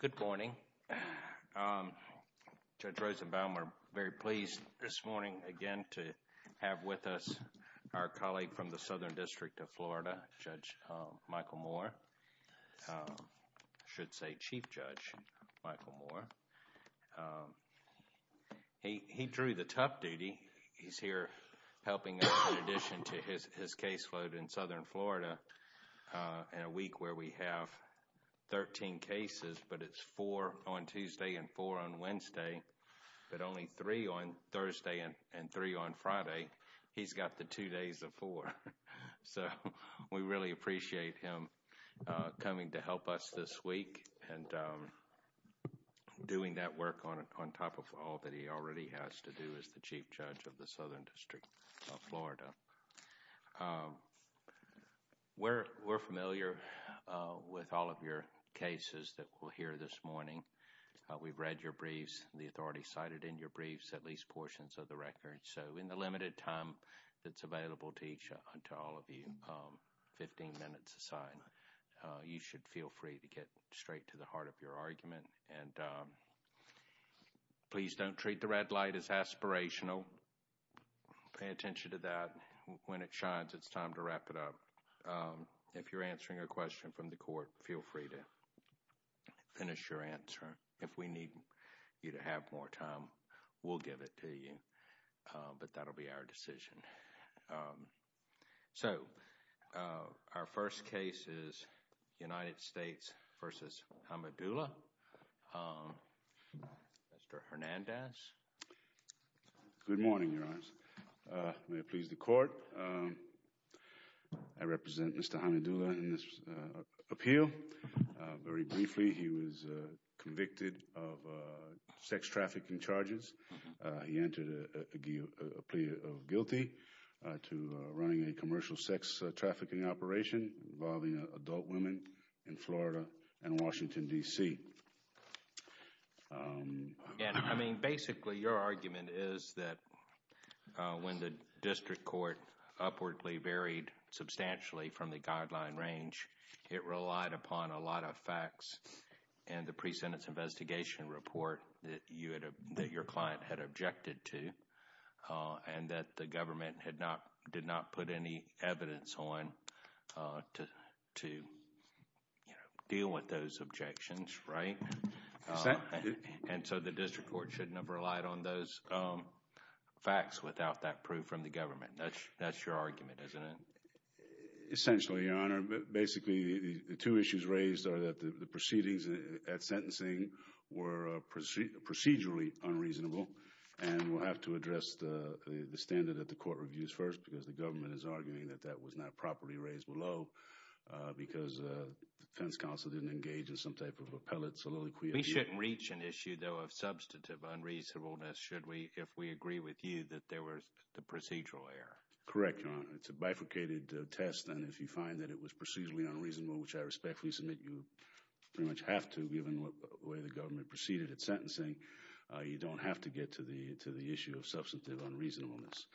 Good morning. Judge Rosenbaum, we're very pleased this morning again to have with us our colleague from the Southern District of Florida, Judge Michael Moore. I should say Chief Judge Michael Moore. He drew the tough duty. He's here helping us in addition to his case load in Southern Florida in a week where we have 13 cases, but it's four on Tuesday and four on Wednesday, but only three on Thursday and three on Friday. He's got the two days of four. So we really appreciate him coming to help us this week and doing that work on top of all that he already has to do as the Chief Judge of the Southern District of Florida. We're familiar with all of your cases that we'll hear this morning. We've read your briefs, the authority cited in your briefs, at least portions of the record. So in the limited time that's available to each and to all of you, 15 minutes aside, you should feel free to get Please don't treat the red light as aspirational. Pay attention to that. When it shines, it's time to wrap it up. If you're answering a question from the court, feel free to finish your answer. If we need you to have more time, we'll give it to you. But that'll be our decision. So our first case is United States v. Hamidullah. Mr. Hernandez. Good morning, Your Honors. May it please the Court. I represent Mr. Hamidullah in this appeal. Very briefly, he was convicted of sex trafficking charges. He entered a plea of guilty to running a commercial sex trafficking operation involving adult women in Florida and Washington, D.C. I mean, basically, your argument is that when the district court upwardly varied substantially from the guideline range, it relied upon a lot of facts in the pre-sentence investigation report that your client had objected to and that the government did not put any evidence on to deal with those objections, right? And so the district court shouldn't have relied on those facts without that proof from the government. That's your argument, isn't it? Essentially, Your Honor. Basically, the two issues raised are that the proceedings at sentencing were procedurally unreasonable, and we'll have to address the standard at the court reviews first because the government is arguing that that was not properly raised below because the defense counsel didn't engage in some type of appellate soliloquy. We shouldn't reach an issue, though, of substantive unreasonableness, should we, if we agree with you that there was the procedural error. Correct, Your Honor. It's a bifurcated test, and if you find that it was procedurally unreasonable, which I respectfully submit you pretty much have to, given the way the government proceeded at sentencing, you don't have to get to the issue of substantive unreasonableness.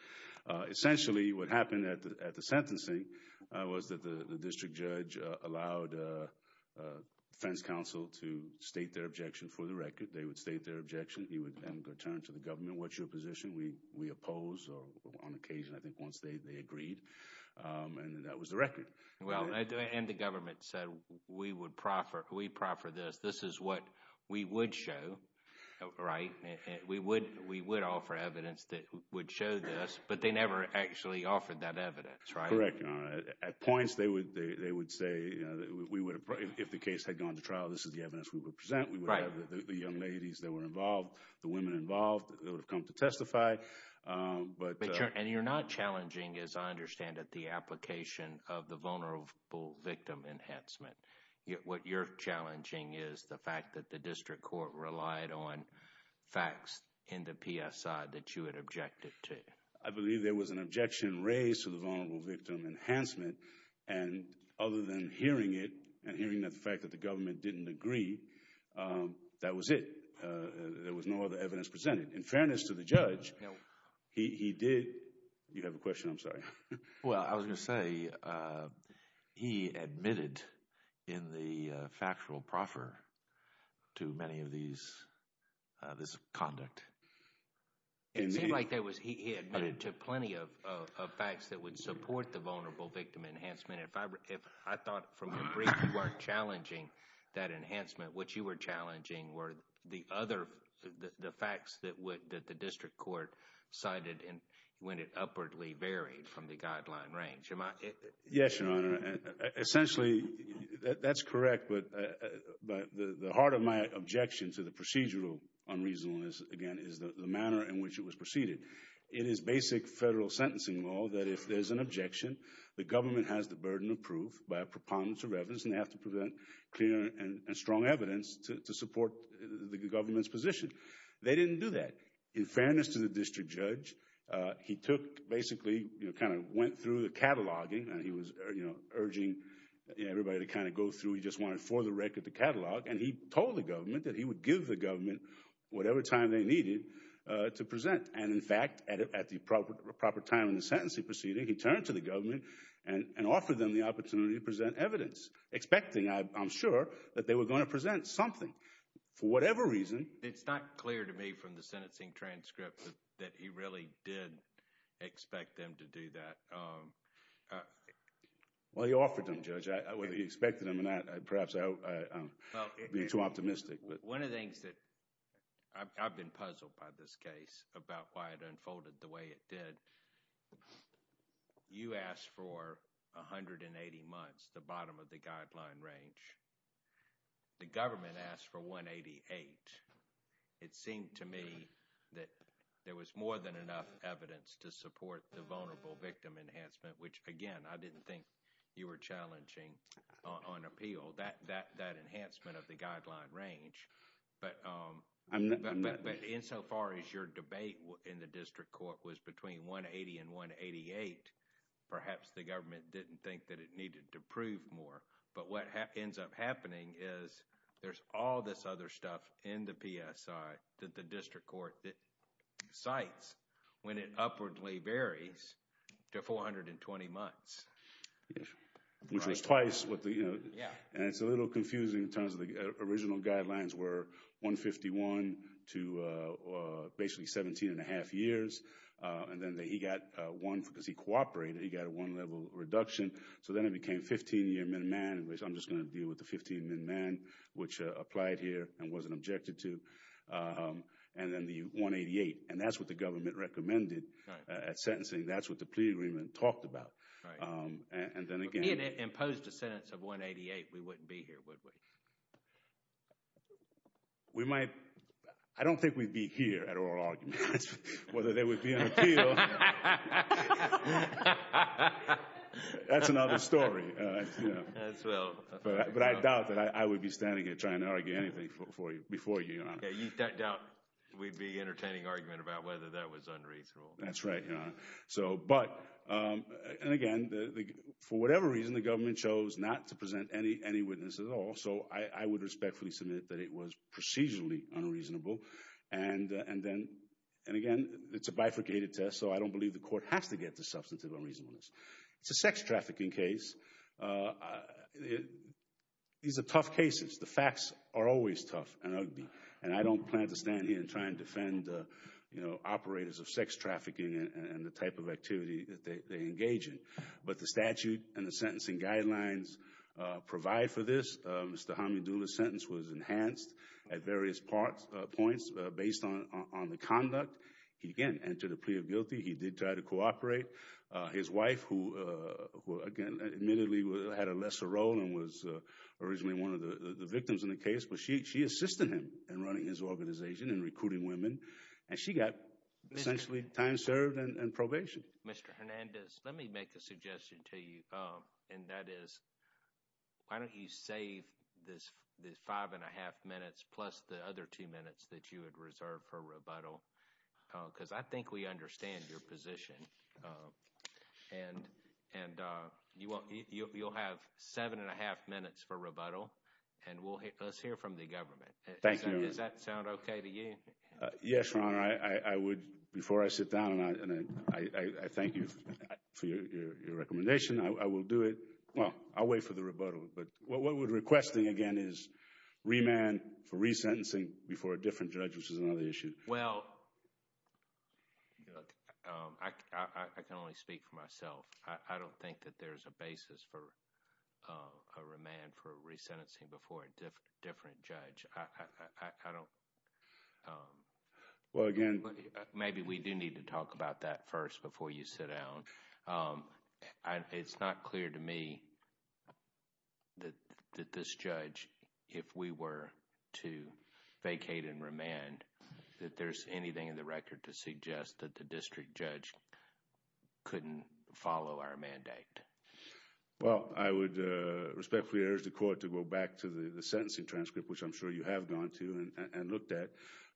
Essentially, what happened at the sentencing was that the district judge allowed defense counsel to state their objection for the record. They would state their objection. He would then return to the government, what's your position? We oppose, or on occasion, I think once they agreed, and that was the record. Well, and the government said, we would proffer this. This is what we would show, right? We would offer evidence that would show this, but they never actually offered that evidence, right? Correct, Your Honor. At points, they would say, you know, if the case had gone to trial, this is the evidence we would present. We would have the young ladies that were involved, the women involved that would have come to testify, but... And you're not challenging, as I understand it, the application of the vulnerable victim enhancement. What you're challenging is the fact that the district court relied on facts in the PSI that you had objected to. I believe there was an objection raised to vulnerable victim enhancement, and other than hearing it, and hearing the fact that the government didn't agree, that was it. There was no other evidence presented. In fairness to the judge, he did... You have a question, I'm sorry. Well, I was going to say, he admitted in the factual proffer to many of these, this conduct. It seemed like there was, he admitted to plenty of facts that would support the vulnerable victim enhancement. If I thought from the brief, you weren't challenging that enhancement. What you were challenging were the other, the facts that the district court cited when it upwardly varied from the guideline range. Yes, Your Honor. Essentially, that's correct, but the heart of my objection to the procedural unreasonableness, again, is the objection. The government has the burden of proof by a preponderance of evidence, and they have to present clear and strong evidence to support the government's position. They didn't do that. In fairness to the district judge, he took, basically, you know, kind of went through the cataloging, and he was, you know, urging everybody to kind of go through. He just wanted for the record the catalog, and he told the government that he would give the government whatever time they needed to present, and in fact, at the proper time in the sentencing proceeding, he turned to the government and offered them the opportunity to present evidence, expecting, I'm sure, that they were going to present something for whatever reason. It's not clear to me from the sentencing transcript that he really did expect them to do that. Well, he offered them, Judge. Whether he did or not, I've been puzzled by this case, about why it unfolded the way it did. You asked for 180 months, the bottom of the guideline range. The government asked for 188. It seemed to me that there was more than enough evidence to support the vulnerable victim enhancement, which, again, I didn't think you were challenging on appeal, that insofar as your debate in the district court was between 180 and 188, perhaps the government didn't think that it needed to prove more, but what ends up happening is there's all this other stuff in the PSI that the district court cites when it upwardly varies to 420 months. Which was twice what the, you know, and it's a little confusing in terms of the original guidelines were 151 to basically 17 and a half years. And then he got one, because he cooperated, he got a one-level reduction. So then it became 15-year miniman, which I'm just going to deal with the 15 miniman, which applied here and wasn't objected to. And then the 188, and that's what the government recommended at sentencing. That's what the plea agreement talked about. And then again, If it imposed a sentence of 188, we wouldn't be here, would we? We might, I don't think we'd be here at oral arguments, whether they would be on appeal. That's another story. But I doubt that I would be standing here trying to argue anything for you, before you, Your Honor. Yeah, you doubt we'd be entertaining argument about whether that was unreasonable. That's right, Your Honor. So, but, and again, for whatever reason, the government chose not to present any witnesses at all. So I would respectfully submit that it was procedurally unreasonable. And then, and again, it's a bifurcated test, so I don't believe the court has to get to substantive unreasonableness. It's a sex trafficking case. These are tough cases. The facts are always tough and ugly. And I don't plan to stand here and try and defend, you know, operators of sex trafficking and the type of activity that they engage in. But the statute and the sentencing guidelines provide for this. Mr. Hamidullah's sentence was enhanced at various parts, points, based on the conduct. He, again, entered a plea of guilty. He did try to cooperate. His wife, who, again, admittedly had a lesser role and was originally one of the victims in the case, but she assisted him in running his organization and recruiting women. And she got essentially time served and probation. Mr. Hernandez, let me make a suggestion to you, and that is, why don't you save this five and a half minutes plus the other two minutes that you had reserved for rebuttal? Because I think we understand your position. And you'll have seven and a half minutes for rebuttal, and we'll hear, let's hear from the government. Thank you. Does that sound right? And I thank you for your recommendation. I will do it. Well, I'll wait for the rebuttal. But what we're requesting, again, is remand for resentencing before a different judge, which is another issue. Well, look, I can only speak for myself. I don't think that there's a basis for a remand for resentencing before a different judge. I don't... Well, again... Maybe we do need to talk about that first before you sit down. It's not clear to me that this judge, if we were to vacate and remand, that there's anything in the record to suggest that the district judge couldn't follow our mandate. Well, I would respectfully urge the court to go back to the sentencing transcript, which I'm sure you have gone to and looked at.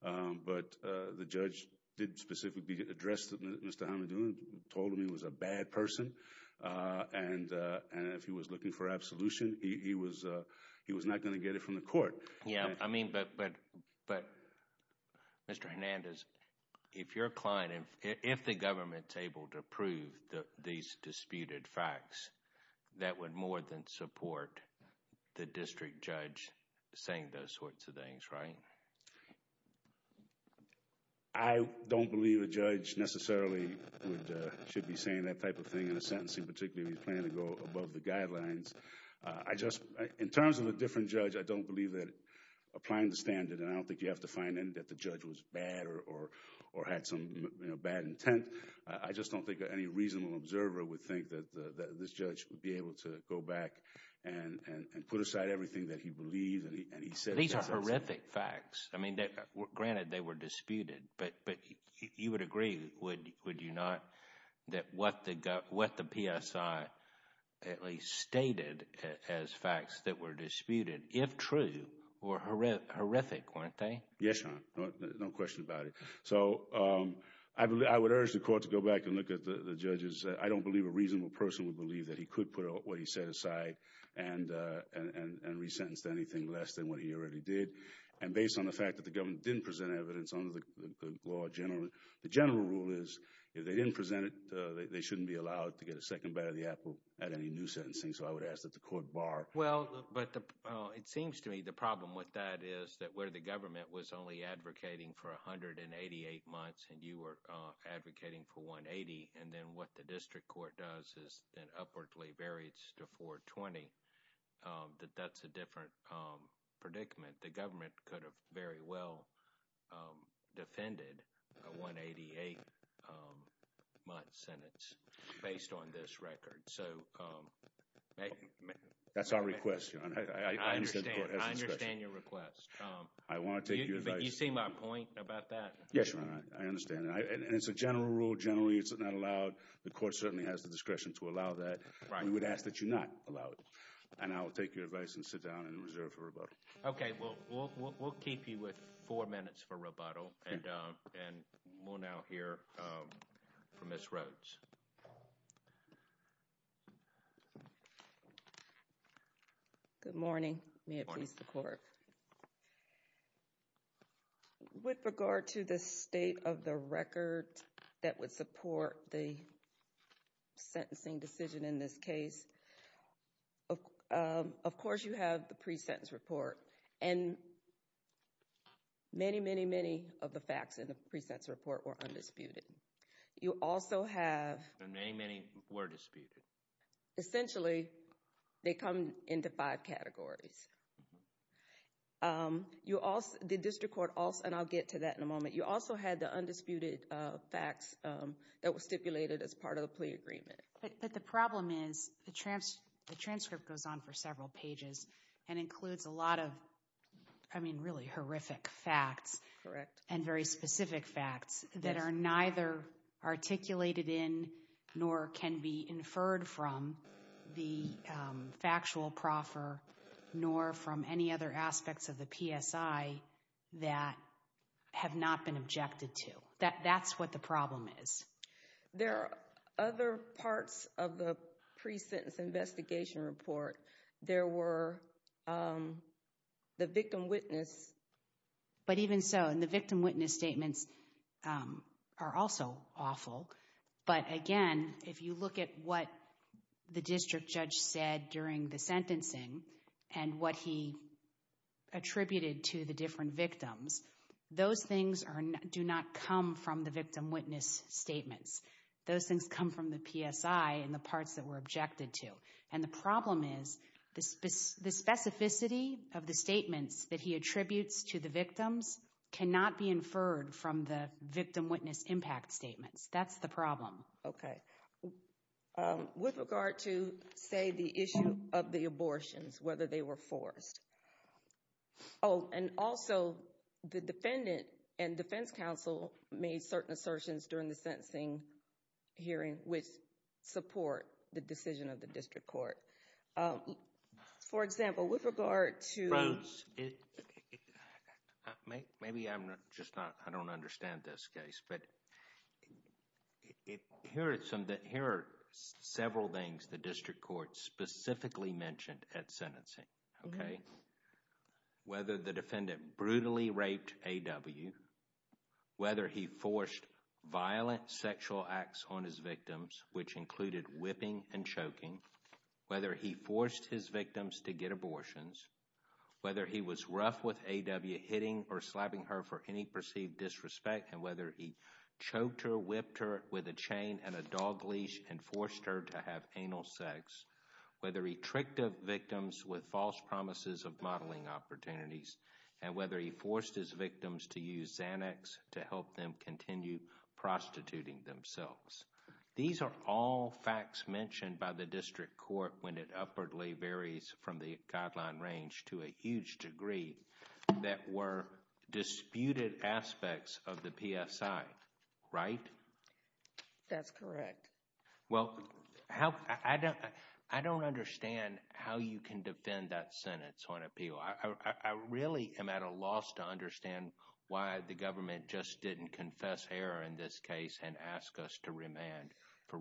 But the judge did specifically address Mr. Hamadoun, told him he was a bad person. And if he was looking for absolution, he was not going to get it from the court. Yeah, I mean, but Mr. Hernandez, if you're a client, if the government's able to prove these disputed facts, that would more than support the district judge saying those sorts of things, right? I don't believe a judge necessarily should be saying that type of thing in a sentencing, particularly if he's planning to go above the guidelines. In terms of a different judge, I don't believe that applying the standard, and I don't think you have to find that the judge was bad or had some bad intent. I just don't think any reasonable observer would think that this judge would be able to go back and put aside everything that he believes and he said. These are horrific facts. I mean, granted, they were disputed, but you would agree, would you not, that what the PSI at least stated as facts that were disputed, if true, were horrific, weren't they? Yes, Your Honor, no question about it. So I would urge the court to go back and look at the what he said aside and resentenced anything less than what he already did. And based on the fact that the government didn't present evidence under the law generally, the general rule is, if they didn't present it, they shouldn't be allowed to get a second bite of the apple at any new sentencing. So I would ask that the court bar. Well, but it seems to me the problem with that is that where the government was only advocating for 188 months and you were advocating for 180 and then what the district court does is then upwardly varies to 420, that that's a different predicament. The government could have very well defended a 188-month sentence based on this record. So that's our request. I understand your request. I want to take your advice. You see generally it's not allowed. The court certainly has the discretion to allow that. We would ask that you not allow it. And I will take your advice and sit down and reserve for rebuttal. Okay. Well, we'll keep you with four minutes for rebuttal and we'll now hear from Ms. Rhodes. Good morning. May it please the court. With regard to the state of the record that would support the sentencing decision in this case, of course, you have the pre-sentence report and many, many, many of the facts in the pre-sentence report were undisputed. You also have... And many, many were disputed. Essentially, they come into five categories. The district court also... And I'll get to that in a moment. You also had the undisputed facts that were stipulated as part of the plea agreement. But the problem is the transcript goes on for several pages and includes a lot of, I mean, really horrific facts and very specific facts that are neither articulated in nor can be factual proffer nor from any other aspects of the PSI that have not been objected to. That's what the problem is. There are other parts of the pre-sentence investigation report. There were the victim witness... But even so, and the victim witness statements are also awful. But again, if you look at what the district judge said during the sentencing and what he attributed to the different victims, those things do not come from the victim witness statements. Those things come from the PSI and the parts that were objected to. And the problem is the specificity of the statements that he attributes to the victims cannot be inferred from the victim witness impact statements. That's the problem. Okay. With regard to, say, the issue of the abortions, whether they were forced. Oh, and also the defendant and defense counsel made certain assertions during the sentencing hearing which support the decision of the district court. For example, with regard to... It... Maybe I'm just not... I don't understand this case, but here are several things the district court specifically mentioned at sentencing, okay? Whether the defendant brutally raped A.W., whether he forced violent sexual acts on his victims, which included whipping and choking, whether he forced his victims to get abortions, whether he was rough with A.W., hitting or slapping her for any perceived disrespect, and whether he choked her, whipped her with a chain and a dog leash and forced her to have anal sex, whether he tricked the victims with false promises of modeling opportunities, and whether he forced his victims to use Xanax to help them continue prostituting themselves. These are all facts mentioned by the district court when it upwardly varies from the guideline range to a huge degree that were disputed aspects of the PSI, right? That's correct. Well, I don't understand how you can defend that sentence on appeal. I really am at a loss to understand why the government just didn't confess error in this case and ask us to remand for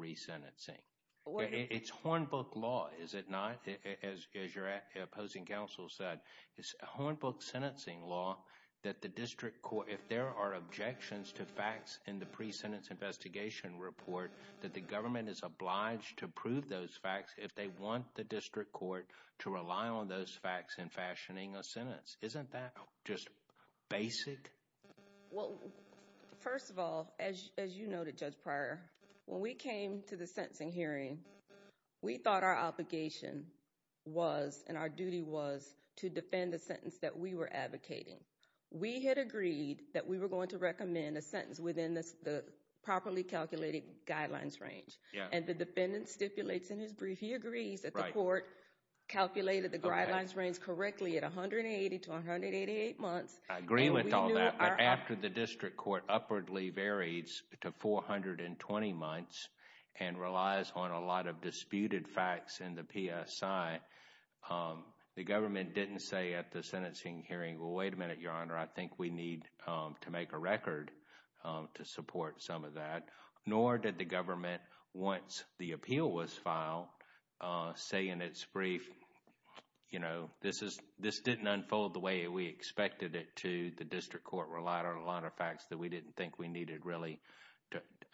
opposing counsel said. It's a hornbook sentencing law that the district court, if there are objections to facts in the pre-sentence investigation report, that the government is obliged to prove those facts if they want the district court to rely on those facts in fashioning a sentence. Isn't that just basic? Well, first of all, as you noted, Judge Pryor, when we came to the sentencing hearing, we thought our obligation was and our duty was to defend the sentence that we were advocating. We had agreed that we were going to recommend a sentence within the properly calculated guidelines range. And the defendant stipulates in his brief, he agrees that the court calculated the guidelines range correctly at 180 to 188 months. I agree with all that, but after the district court upwardly varies to 420 months and relies on a lot of disputed facts in the PSI, the government didn't say at the sentencing hearing, well, wait a minute, Your Honor, I think we need to make a record to support some of that. Nor did the government, once the appeal was filed, say in its brief, you know, this didn't unfold the way we expected it to. The district court relied on a lot of facts that we didn't think we needed really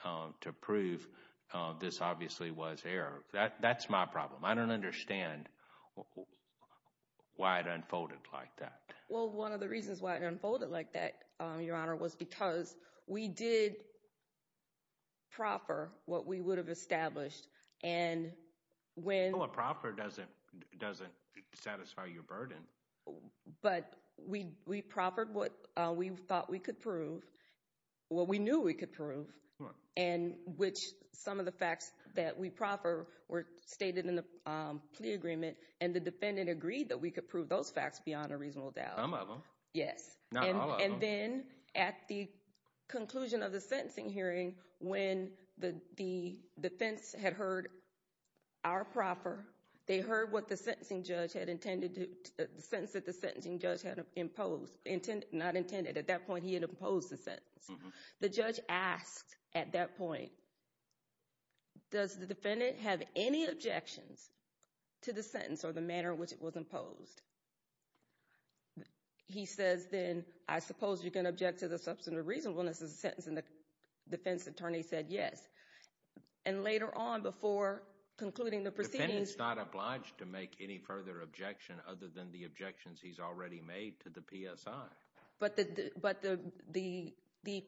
to prove this obviously was error. That's my problem. I don't understand why it unfolded like that. Well, one of the reasons why it unfolded like that, Your Honor, was because we did proffer what we would have established. And when... Well, a proffer doesn't satisfy your burden. But we proffered what we thought we could prove, what we knew we could prove, and which some of the facts that we proffer were stated in the plea agreement, and the defendant agreed that we could prove those facts beyond a reasonable doubt. Some of them. Yes. Not all of them. And then at the conclusion of the sentencing hearing, when the defense had heard our proffer, they heard what the sentencing judge had intended to, the sentence that the sentencing judge had imposed, intended, not intended, at that point he had imposed the sentence. The judge asked at that point, does the defendant have any objections to the sentence or the manner in which it was imposed? He says, then, I suppose you can object to the substantive reasonableness of the sentence, and the defense attorney said yes. And later on, before concluding the proceedings... The defendant's not obliged to make any further objection other than the objections he's already made to the PSI. But the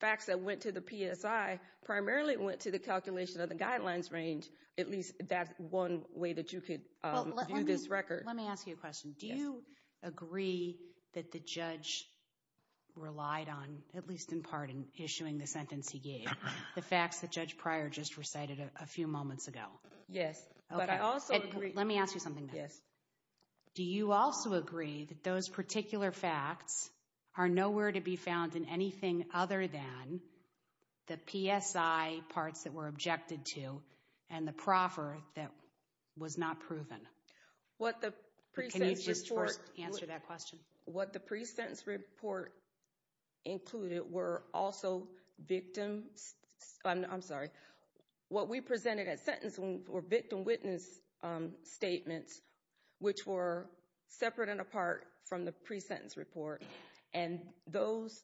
facts that went to the PSI primarily went to the calculation of the guidelines range. At least that's one way that you could view this record. Let me ask you a question. Do you agree that the judge relied on, at least in part, issuing the sentence he gave, the facts that Judge Pryor just recited a few moments ago? Yes, but I also agree... Let me ask you something. Do you also agree that those particular facts are nowhere to be found in anything other than the PSI parts that were objected to and the proffer that was not proven? Can you just first answer that question? Victim... I'm sorry. What we presented as sentencing were victim-witness statements, which were separate and apart from the pre-sentence report. And those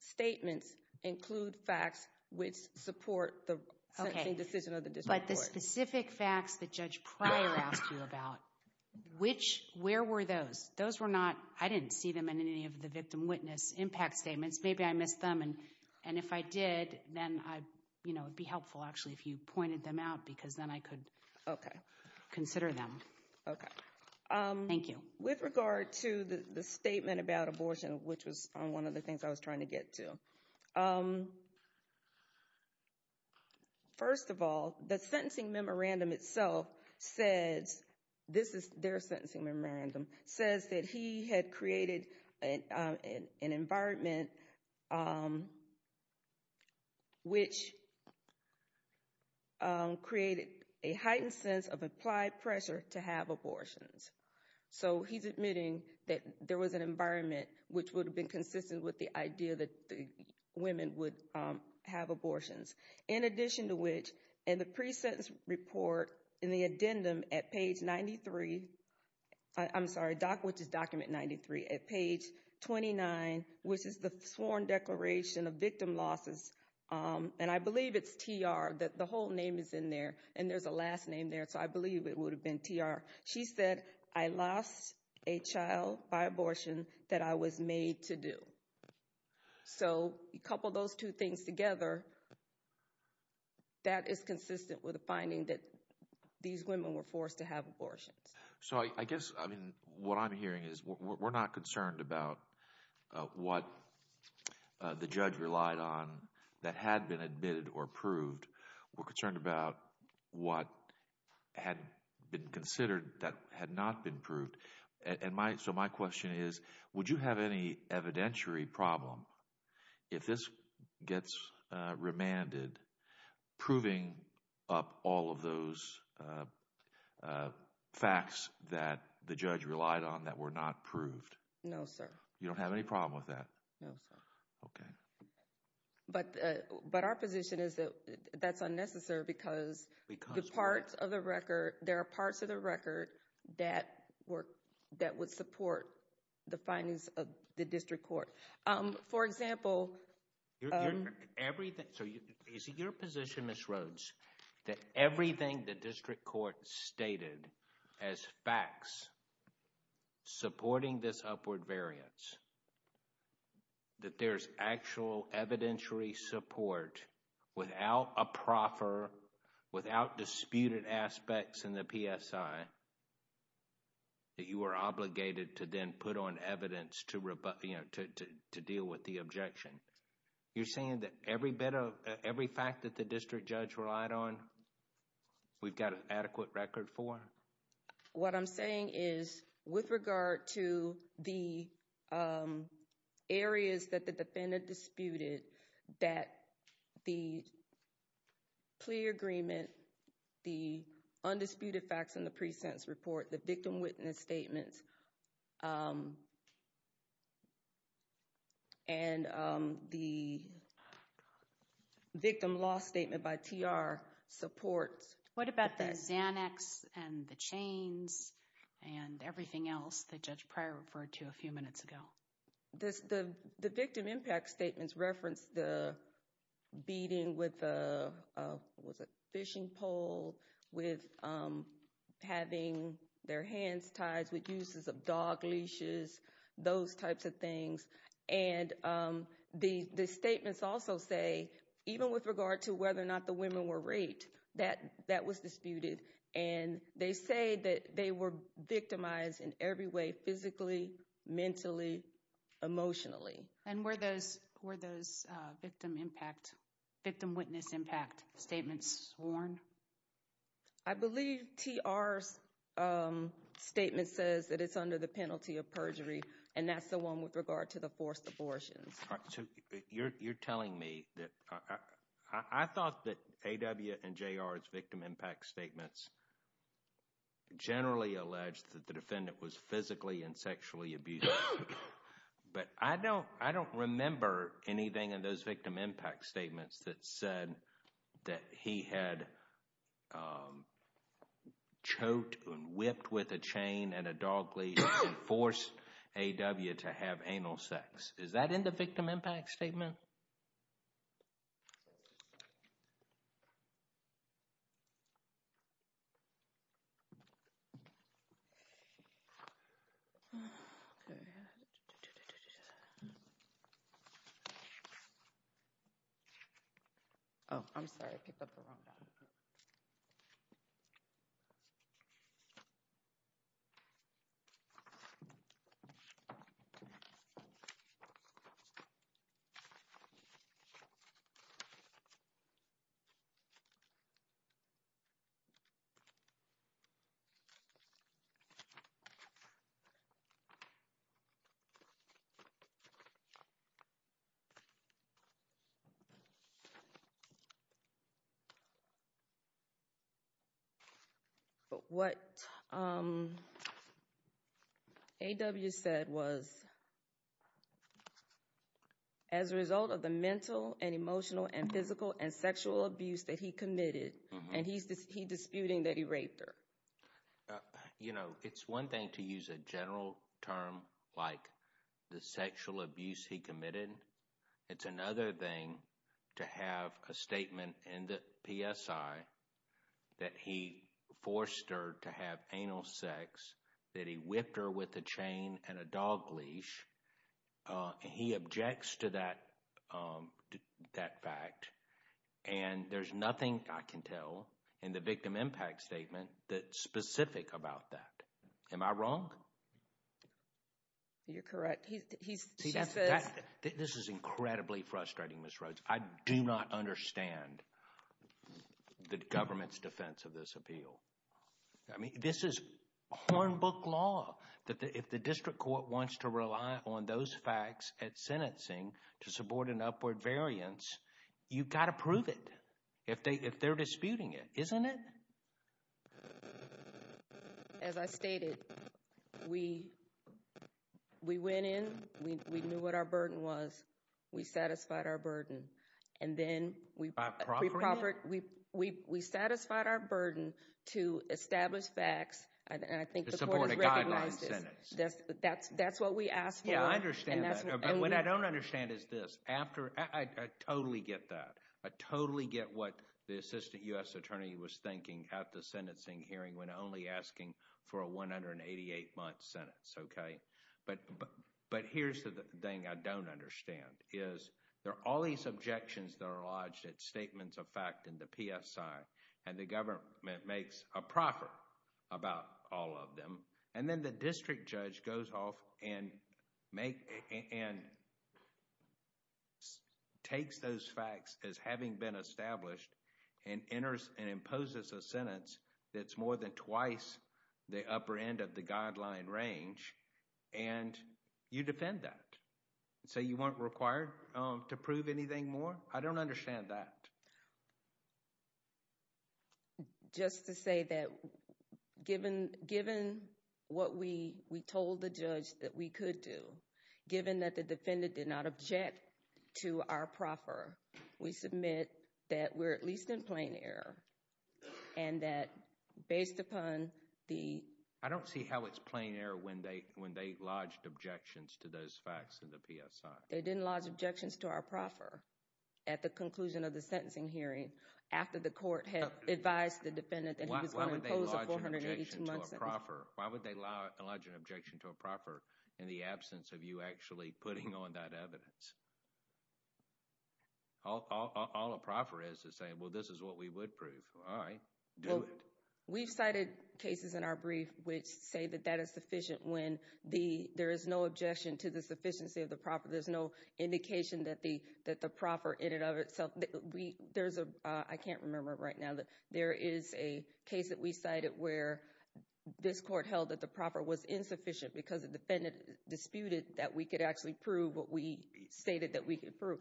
statements include facts which support the sentencing decision of the district court. Okay, but the specific facts that Judge Pryor asked you about, where were those? Those were not... I didn't see them in any of the victim-witness impact statements. Maybe I missed them, and if I did, then it'd be helpful, actually, if you pointed them out, because then I could consider them. Okay. Thank you. With regard to the statement about abortion, which was one of the things I was trying to get to... First of all, the sentencing memorandum itself says... ...which... ...created a heightened sense of applied pressure to have abortions. So he's admitting that there was an environment which would have been consistent with the idea that the women would have abortions. In addition to which, in the pre-sentence report, in the addendum at page 93... I'm sorry, which is document 93. At page 29, which is the sworn declaration of victim losses, and I believe it's TR, that the whole name is in there, and there's a last name there. So I believe it would have been TR. She said, I lost a child by abortion that I was made to do. So a couple of those two things together, that is consistent with the finding that these women were forced to have abortions. So I guess, I mean, what I'm hearing is we're not concerned about what the judge relied on that had been admitted or proved. We're concerned about what had been considered that had not been proved. So my question is, would you have any evidentiary problem if this gets remanded, proving up all of those facts that the judge relied on that were not proved? No, sir. You don't have any problem with that? No, sir. Okay. But our position is that that's unnecessary because the parts of the record, there are parts of the record that would support the findings of the district court. For example... Everything... So is it your position, Ms. Rhodes, that everything the district court stated as facts supporting this upward variance, that there's actual evidentiary support without a proffer, without disputed aspects in the PSI, that you are obligated to then put on evidence to deal with the objection? You're saying that every fact that the district judge relied on, we've got an adequate record for? What I'm saying is, with regard to the areas that the defendant disputed, that the plea agreement, the undisputed facts in the pre-sentence report, the victim witness statements, and the victim loss statement by TR supports... What about the Xanax and the chains and everything else that Judge Pryor referred to a few minutes ago? The victim impact statements reference the beating with a fishing pole, with having their hands tied, with uses of dog leashes, those types of things. And the statements also say, even with regard to whether or not the women were raped, that that was disputed. And they say that they were victimized in every way, physically, mentally, emotionally. And were those victim impact, victim witness impact statements sworn? I believe TR's statement says that it's under the penalty of perjury. And that's the one with regard to the forced abortions. You're telling me that... I thought that AW and JR's victim impact statements generally alleged that the defendant was physically and sexually abused. But I don't remember anything in those victim impact statements that said that he had choked and whipped with a chain and a dog leash and forced AW to have anal sex. Is that in the victim impact statement? Oh, I'm sorry. But what AW said was, as a result of the mental and emotional and physical and sexual abuse that he committed, and he's disputing that he raped her. You know, it's one thing to use a general term like the sexual abuse he committed. It's another thing to have a statement in the PSI that he forced her to have anal sex, that he whipped her with a chain and a dog leash. He objects to that fact. And there's nothing I can tell in the victim impact statement that's specific about that. Am I wrong? You're correct. He says... This is incredibly frustrating, Ms. Rhodes. I do not understand the government's defense of this appeal. I mean, this is hornbook law. If the district court wants to rely on those facts at sentencing to support an upward variance, you've got to prove it if they're disputing it, isn't it? As I stated, we went in, we knew what our burden was. We satisfied our burden. And then we... By proffering it? We satisfied our burden to establish facts, and I think... To support a guideline sentence. That's what we asked for. Yeah, I understand that. But what I don't understand is this. I totally get that. I totally get what the assistant U.S. attorney was thinking at the sentencing hearing when only asking for a 188-month sentence, okay? But here's the thing I don't understand is there are all these objections that are lodged at statements of fact in the PSI, and the government makes a proffer about all of them. And then the district judge goes off and takes those facts as having been established and imposes a sentence that's more than twice the upper end of the guideline range, and you defend that. So you weren't required to prove anything more? I don't understand that. Just to say that given what we told the judge that we could do, given that the defendant did not object to our proffer, we submit that we're at least in plain error, and that based upon the... I don't see how it's plain error when they lodged objections to those facts in the PSI. They didn't lodge objections to our proffer at the conclusion of the sentencing hearing. After the court had advised the defendant that he was going to impose a 482-month sentence. Why would they lodge an objection to a proffer in the absence of you actually putting on that evidence? All a proffer is to say, well, this is what we would prove. All right, do it. We've cited cases in our brief which say that that is sufficient when there is no objection to the sufficiency of the proffer. There's no indication that the proffer in and of itself... I can't remember right now that there is a case that we cited where this court held that the proffer was insufficient because the defendant disputed that we could actually prove what we stated that we could prove.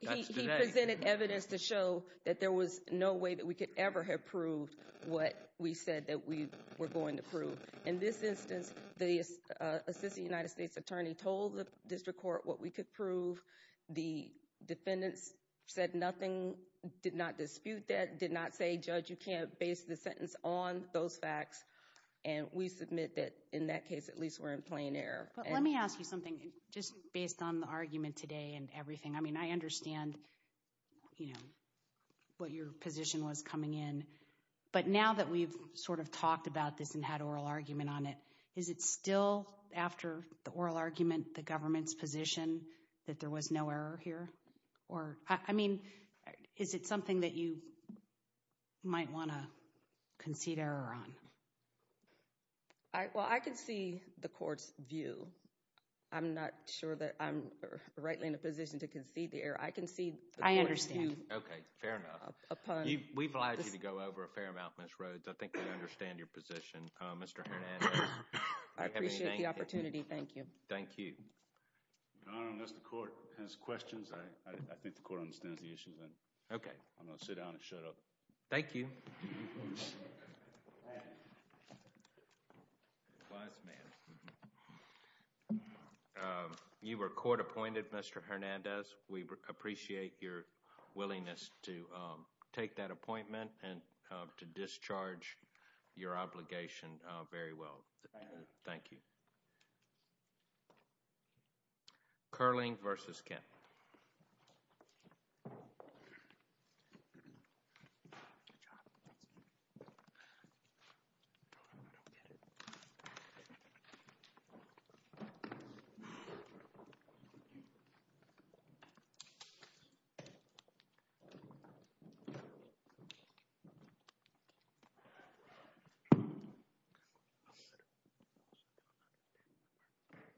He presented evidence to show that there was no way that we could ever have proved what we said that we were going to prove. In this instance, the assistant United States attorney told the district court what we could prove. The defendants said nothing, did not dispute that, did not say, Judge, you can't base the sentence on those facts. And we submit that in that case, at least we're in plain error. But let me ask you something just based on the argument today and everything. I mean, I understand what your position was coming in, but now that we've sort of talked about this and had oral argument on it, is it still after the oral argument the government's position that there was no error here? Or, I mean, is it something that you might want to concede error on? Well, I can see the court's view. I'm not sure that I'm rightly in a position to concede the error. I can see... I understand. Okay. Fair enough. We've allowed you to go over a fair amount, Ms. Rhodes. I think we understand your position. Mr. Hernandez, if you have anything... I appreciate the opportunity. Thank you. Thank you. Your Honor, unless the court has questions, I think the court understands the issues. Okay. I'm going to sit down and shut up. Thank you. You were court appointed, Mr. Hernandez. We appreciate your willingness to take that appointment and to discharge your obligation very well. Thank you. Okay. Kerling v. Kent.